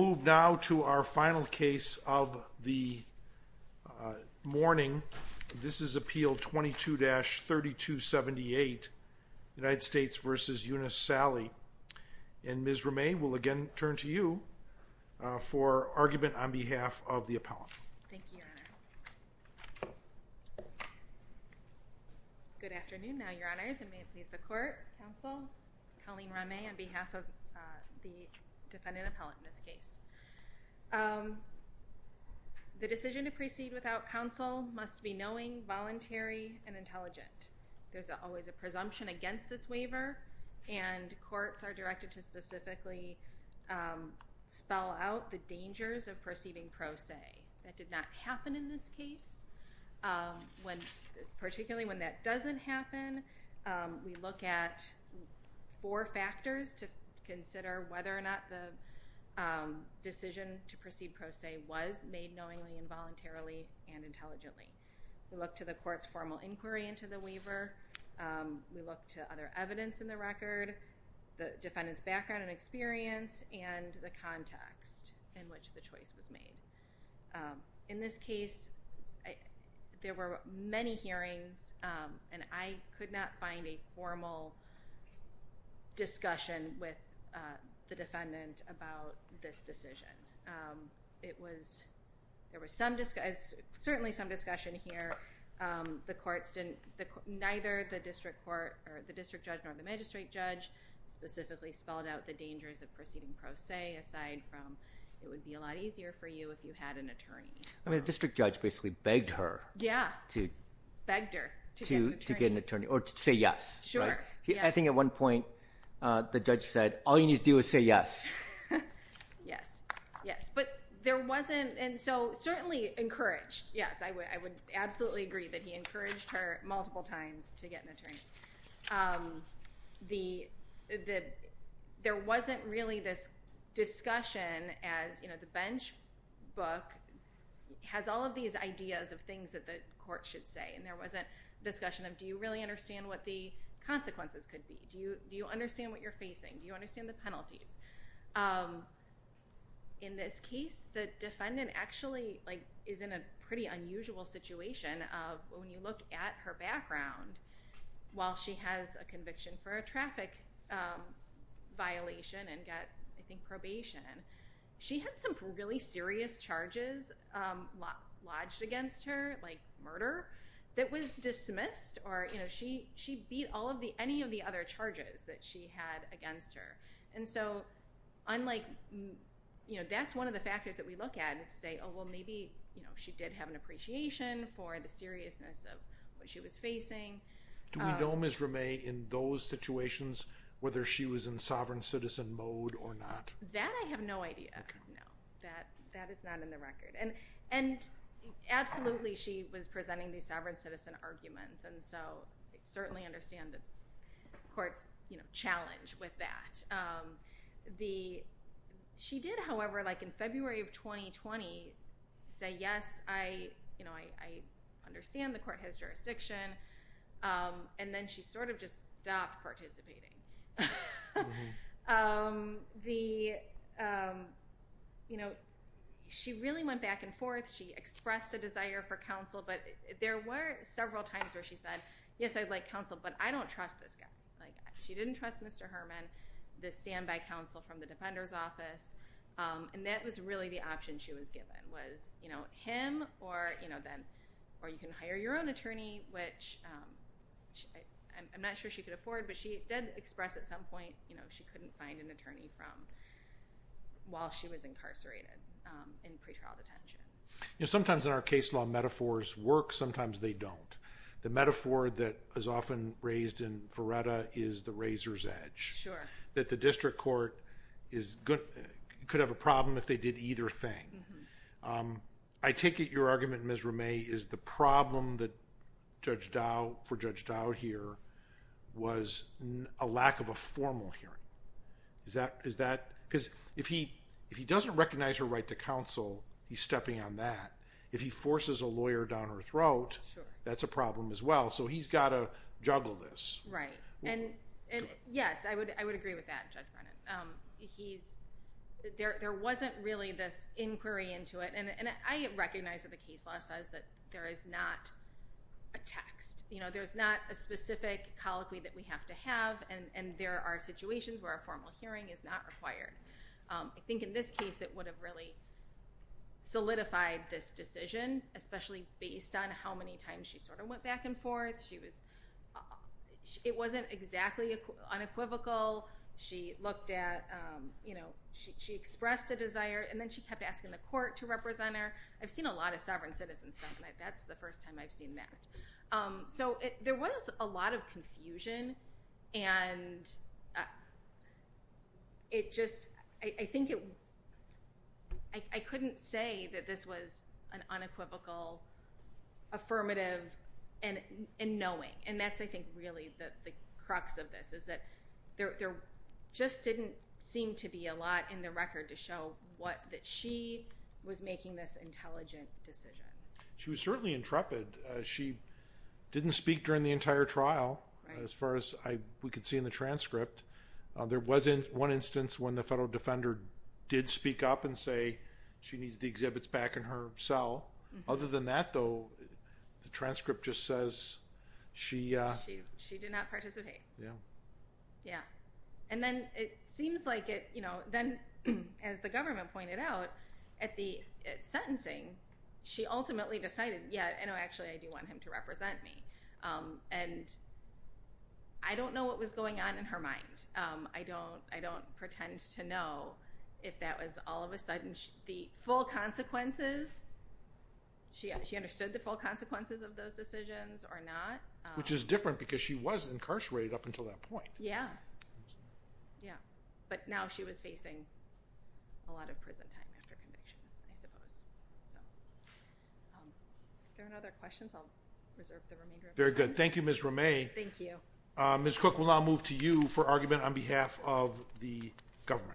Move now to our final case of the morning. This is Appeal 22-3278, United States v. Eunice D. Salley. And Ms. Ramay, we'll again turn to you for argument on behalf of the appellant. Thank you, Your Honor. Good afternoon, now, Your Honors, and may it please the Court, Counsel, Colleen Ramay, on behalf of the defendant appellant in this case. The decision to proceed without counsel must be knowing, voluntary, and intelligent. There's always a presumption against this waiver, and courts are directed to specifically spell out the dangers of proceeding pro se. That did not happen in this case. Particularly when that doesn't happen, we look at four factors to consider whether or not the decision to proceed pro se was made knowingly, involuntarily, and intelligently. We look to the court's formal inquiry into the waiver. We look to other evidence in the record, the defendant's background and experience, and the context in which the choice was made. In this case, there were many hearings, and I could not find a formal discussion with the defendant about this decision. It was, there was some discussion, certainly some discussion here. The courts didn't, neither the district court, or the district judge, nor the magistrate judge, specifically spelled out the dangers of proceeding pro se, aside from it would be a lot easier for you if you had an attorney. I mean, the district judge basically begged her. Yeah, begged her to get an attorney, or to say yes. Sure. I think at one point, the judge said, all you need to do is say yes. Yes, yes. But there wasn't, and so certainly encouraged, yes, I would absolutely agree that he encouraged her multiple times to get an attorney. There wasn't really this discussion as, you know, the bench book has all of these ideas of things that the do you really understand what the consequences could be? Do you understand what you're facing? Do you understand the penalties? In this case, the defendant actually, like, is in a pretty unusual situation of when you look at her background, while she has a conviction for a traffic violation and got, I think, probation, she had some really serious charges lodged against her, like murder, that was dismissed, or, you know, she beat all of the, any of the other charges that she had against her. And so, unlike, you know, that's one of the factors that we look at and say, oh, well, maybe, you know, she did have an appreciation for the seriousness of what she was facing. Do we know Ms. Ramee in those situations whether she was in sovereign citizen mode or not? That I have no idea. No, that is not in the case. Absolutely, she was presenting these sovereign citizen arguments. And so, I certainly understand the court's, you know, challenge with that. The, she did, however, like, in February of 2020 say, yes, I, you know, I understand the court has jurisdiction. And then she sort of just stopped participating. The, you know, she really went back and forth. She expressed a desire for counsel, but there were several times where she said, yes, I'd like counsel, but I don't trust this guy. Like, she didn't trust Mr. Herman, the standby counsel from the defender's office. And that was really the option she was given, was, you know, him or, you know, then, or you can hire your own attorney, which I'm not sure she could afford, but she did express at some point, you know, she couldn't find an attorney from, while she was incarcerated in pretrial detention. You know, sometimes in our case law, metaphors work, sometimes they don't. The metaphor that is often raised in Verretta is the razor's edge. Sure. That the district court is, could have a problem if they did either thing. I take it your argument, Ms. Ramay, is the problem that Judge Dowd, for Judge Dowd here, was a lack of a formal hearing. Is that, is that, because if he, if he doesn't recognize her right to counsel, he's stepping on that. If he forces a lawyer down her throat, that's a problem as well. So he's got to juggle this. Right. And, and yes, I would, I would agree with that, Judge Brennan. He's, there, there wasn't really this inquiry into it. And, and I recognize that the case law says that there is not a text. You know, there's not a specific colloquy that we have to have. And, and there are situations where a formal hearing is not required. I think in this case, it would have really solidified this decision, especially based on how many times she sort of went back and forth. She was, it wasn't exactly unequivocal. She looked at, you know, she, she expressed a desire and then she kept asking the court to represent her. I've seen a lot of sovereign citizen stuff and I, that's the first time I've seen that. Um, so it, there was a lot of confusion and it just, I think it, I, I couldn't say that this was an unequivocal affirmative and, and knowing. And that's, I think really the, the crux of this is that there, there just didn't seem to be a lot in the record to show what, that she was making this intelligent decision. She was certainly intrepid. She didn't speak during the entire trial as far as I, we could see in the transcript. Uh, there wasn't one instance when the federal defender did speak up and say she needs the exhibits back in her cell. Other than that though, the transcript just says she, uh. She did not participate. Yeah. Yeah. And then it seems like it, you know, then as the government pointed out at the sentencing, she ultimately decided, yeah, no, actually I do want him to represent me. Um, and I don't know what was going on in her mind. Um, I don't, I don't pretend to know if that was all of a sudden the full consequences. She, she understood the full consequences of those decisions or not. Which is different because she was incarcerated up until that point. Yeah. Yeah. But now she was facing a lot of prison time after conviction, I suppose. So. Um, if there are no other questions, I'll reserve the remainder of my time. Very good. Thank you, Ms. Ramey. Thank you. Um, Ms. Cook, we'll now move to you for argument on behalf of the government.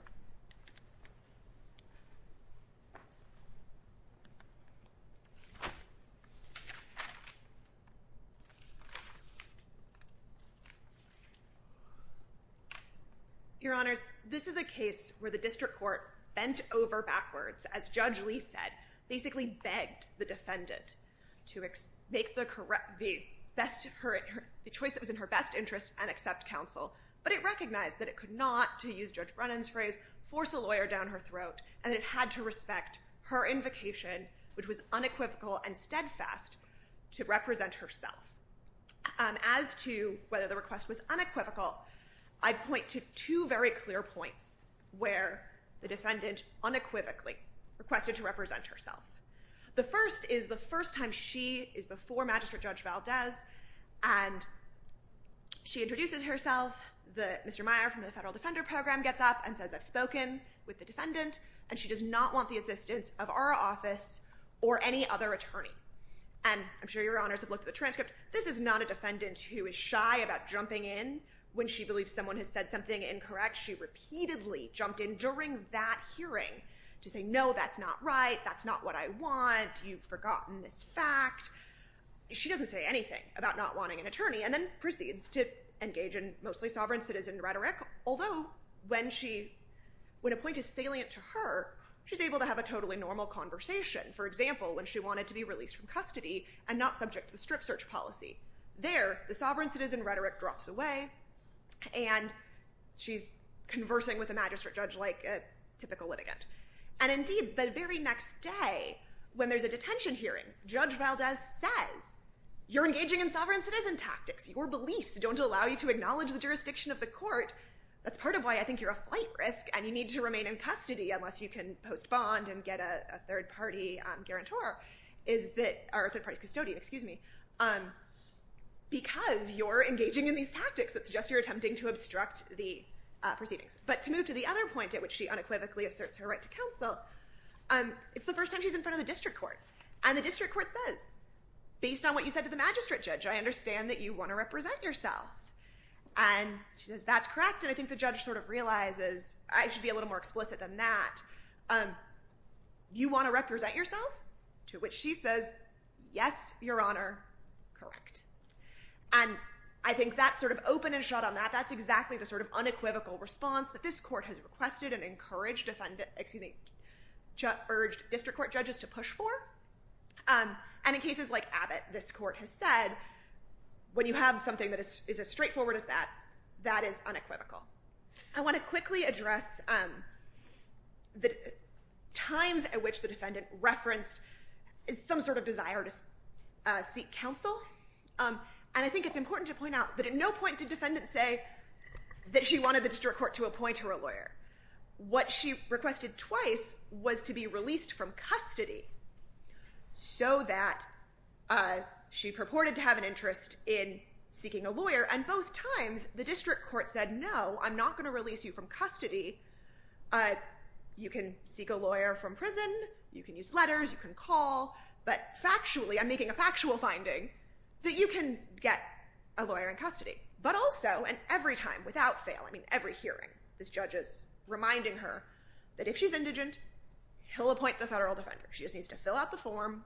Your Honors, this is a case where the district court bent over backwards, as Judge Lee said, basically begged the defendant to make the correct, the best, her, the choice that was in her best interest and accept counsel. But it recognized that it could not, to use Judge Brennan's phrase, force a lawyer down her throat. And it had to respect her invocation, which was unequivocal and steadfast, to represent herself. Um, as to whether the request was unequivocal, I'd point to two very clear points where the defendant unequivocally requested to represent herself. The first is the first time she is before Magistrate Judge Valdez and she introduces herself. The, Mr. Meyer from the Federal Defender Program gets up and says, I've spoken with the defendant and she does not want the assistance of our office or any other attorney. And I'm sure Your Honors have looked at the transcript. This is not a defendant who is shy about jumping in when she believes someone has said something incorrect. She repeatedly jumped in during that hearing to say, no, that's not right. That's not what I want. You've forgotten this fact. She doesn't say anything about not wanting an attorney and then proceeds to engage in mostly sovereign citizen rhetoric. Although when she, when a point is salient to her, she's able to have a totally normal conversation. For example, when she wanted to be released from custody and not subject to the strip search policy. There, the sovereign citizen rhetoric drops away and she's conversing with a magistrate judge like a typical litigant. And indeed, the very next day when there's a detention hearing, Judge Valdez says, you're engaging in sovereign citizen tactics. Your beliefs don't allow you to acknowledge the jurisdiction of the court. That's part of why I think you're a flight risk and you need to remain in custody unless you can post bond and get a third party guarantor, or third party custodian, excuse me, because you're engaging in these tactics that suggest you're attempting to obstruct the proceedings. But to move to the other point at which she unequivocally asserts her right to counsel, it's the first time she's in front of the district court. And the district court says, based on what you said to the magistrate judge, I understand that you want to represent yourself. And she says, that's correct. And I think the judge sort of realizes, I should be a little more explicit than that. You want to represent yourself? To which she says, yes, your honor, correct. And I think that's sort of open and shut on that. That's exactly the sort of unequivocal response that this court has requested and encouraged defendant, excuse me, urged district court judges to push for. And in cases like Abbott, this court has said, when you have something that is as straightforward as that, that is unequivocal. I want to quickly address the times at which the defendant referenced some sort of desire to seek counsel. And I think it's important to point out that at no point did defendant say that she wanted the district court to appoint her a lawyer. What she requested twice was to be released from custody so that she purported to have an interest in seeking a lawyer. And both times, the district court said, no, I'm not going to release you from custody. You can seek a lawyer from prison. You can use letters. You can call. But factually, I'm making a factual finding, that you can get a lawyer in custody. But also, and every time, without fail, I mean, every hearing, this judge is reminding her that if she's indigent, he'll appoint the federal defender. She just needs to fill out the form.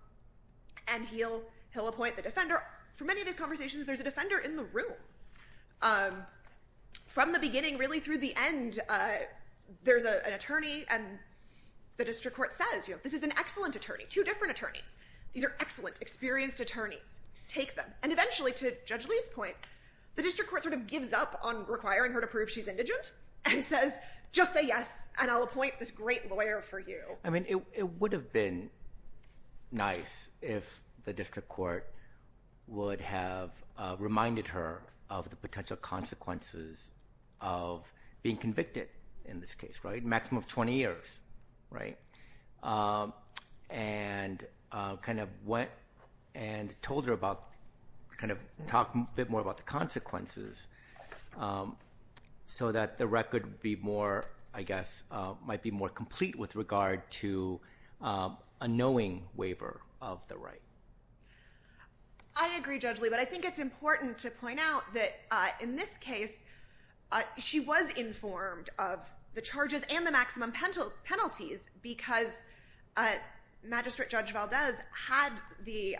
And he'll appoint the defender. For many of the conversations, there's a defender in the room. From the beginning, really through the end, there's an attorney. And the district court says, this is an excellent attorney. Two different attorneys. These are excellent, experienced attorneys. Take them. And eventually, to Judge Lee's point, the district court sort of gives up on requiring her to prove she's indigent and says, just say yes, and I'll appoint this great lawyer for you. I mean, it would have been nice if the district court would have reminded her of the potential consequences of being convicted in this case, right? Maximum of 20 years, right? And kind of went and told her about, kind of talked a bit more about the consequences so that the record would be more, I guess, might be more complete with regard to a knowing waiver of the right. I agree, Judge Lee. But I think it's important to point out that in this case, she was informed of the charges and the maximum penalties because Magistrate Judge Valdez had the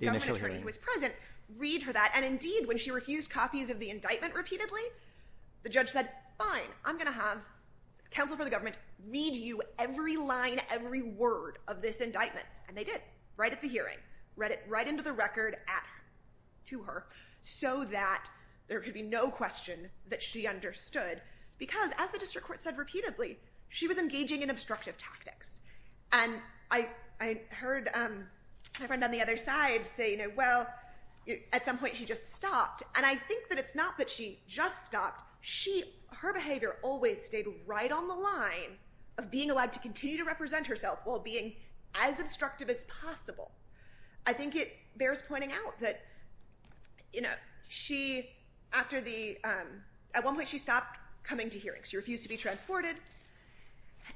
attorney who was present read her that. And indeed, when she refused copies of the indictment repeatedly, the judge said, fine, I'm going to have counsel for the government read you every line, every word of this indictment. And they did. Right at the hearing. Read it right into the record to her so that there could be no question that she understood because, as the district court said repeatedly, she was engaging in obstructive tactics. And I heard my friend on the other side say, well, at some point, she just stopped. And I think that it's not that she just stopped. Her behavior always stayed right on the line of being allowed to continue to represent herself while being as obstructive as possible. I think it bears pointing out that at one point, she stopped coming to hearings. She refused to be transported.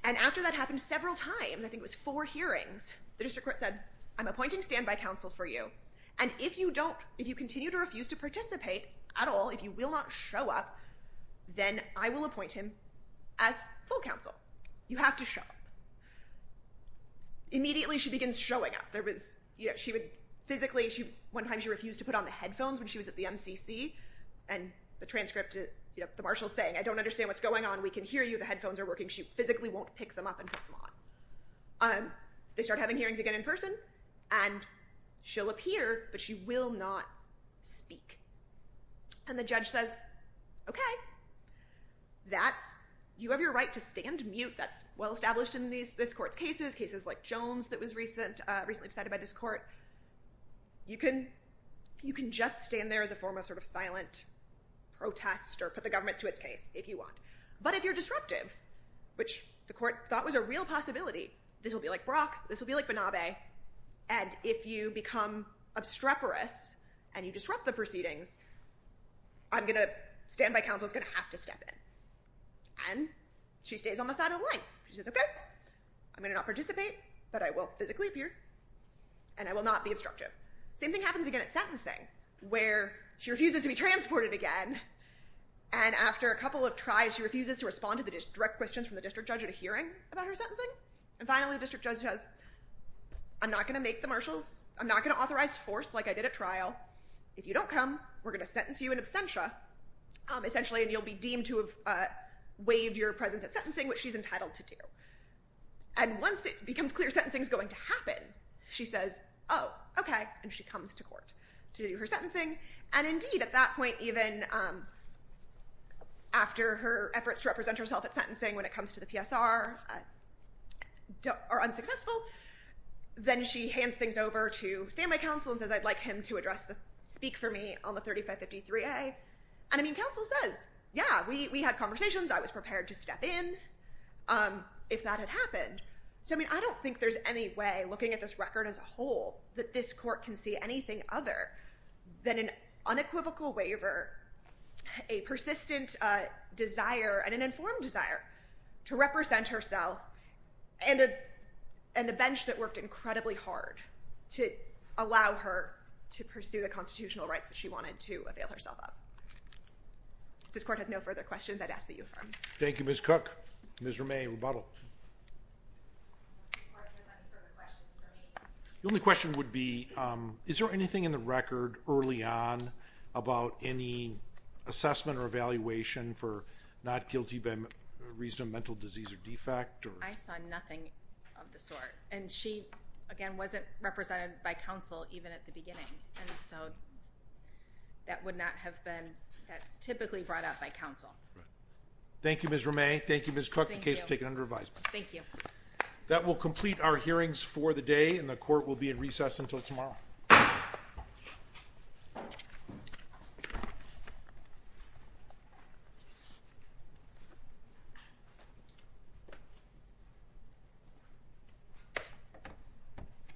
And after that happened several times, I think it was four hearings, the district court said, I'm appointing standby counsel for you. And if you continue to refuse to participate at all, if you will not show up, then I will appoint him as full counsel. You have to show up. Immediately, she begins showing up. Physically, one time she refused to put on the headphones when she was at the MCC. And the transcript, the marshal's saying, I don't understand what's going on. We can hear you. The headphones are working. She physically won't pick them up and put them on. They start having hearings again in person. And she'll appear, but she will not speak. And the judge says, OK, you have your right to stand mute. That's well established in this court's cases, cases like Jones that was recently decided by this court. You can just stand there as a form of sort of silent protest or put the government to its case if you want. But if you're disruptive, which the court thought was a real possibility, this will be like Brock. This will be like Banabe. And if you become obstreperous and you disrupt the proceedings, I'm going to, standby counsel is going to have to step in. And she stays on the side of the line. She says, OK, I'm going to not participate, but I will physically appear, and I will not be obstructive. Same thing happens again at sentencing, where she refuses to be transported again. And after a couple of tries, she refuses to respond to the direct questions from the district judge at a hearing about her sentencing. And finally, the district judge says, I'm not going to make the marshals. I'm not going to authorize force like I did at trial. If you don't come, we're going to sentence you in absentia, essentially, and you'll be deemed to have waived your presence at sentencing, which she's entitled to do. And once it becomes clear sentencing is going to happen, she says, oh, OK, and she comes to court to do her sentencing. And indeed, at that point, even after her efforts to represent herself at sentencing when it comes to the PSR are unsuccessful, then she hands things over to standby counsel and says, I'd like him to speak for me on the 3553A. And counsel says, yeah, we had conversations. I was prepared to step in if that had happened. So I don't think there's any way, looking at this record as a whole, that this court can see anything other than an unequivocal waiver, a persistent desire, and an informed desire to represent herself, and a bench that worked incredibly hard to allow her to pursue the constitutional rights that she wanted to avail herself of. If this court has no further questions, I'd ask that you affirm. Thank you, Ms. Cook. Ms. Ramay, rebuttal. If this court has any further questions for me. The only question would be, is there anything in the record early on about any assessment or evaluation for not guilty by reason of mental disease or defect? I saw nothing of the sort. And she, again, wasn't represented by counsel even at the beginning. And so that would not have been, that's typically brought up by counsel. Thank you, Ms. Ramay. Thank you, Ms. Cook. The case is taken under advisement. Thank you. That will complete our hearings for the day, and the court will be in recess until tomorrow.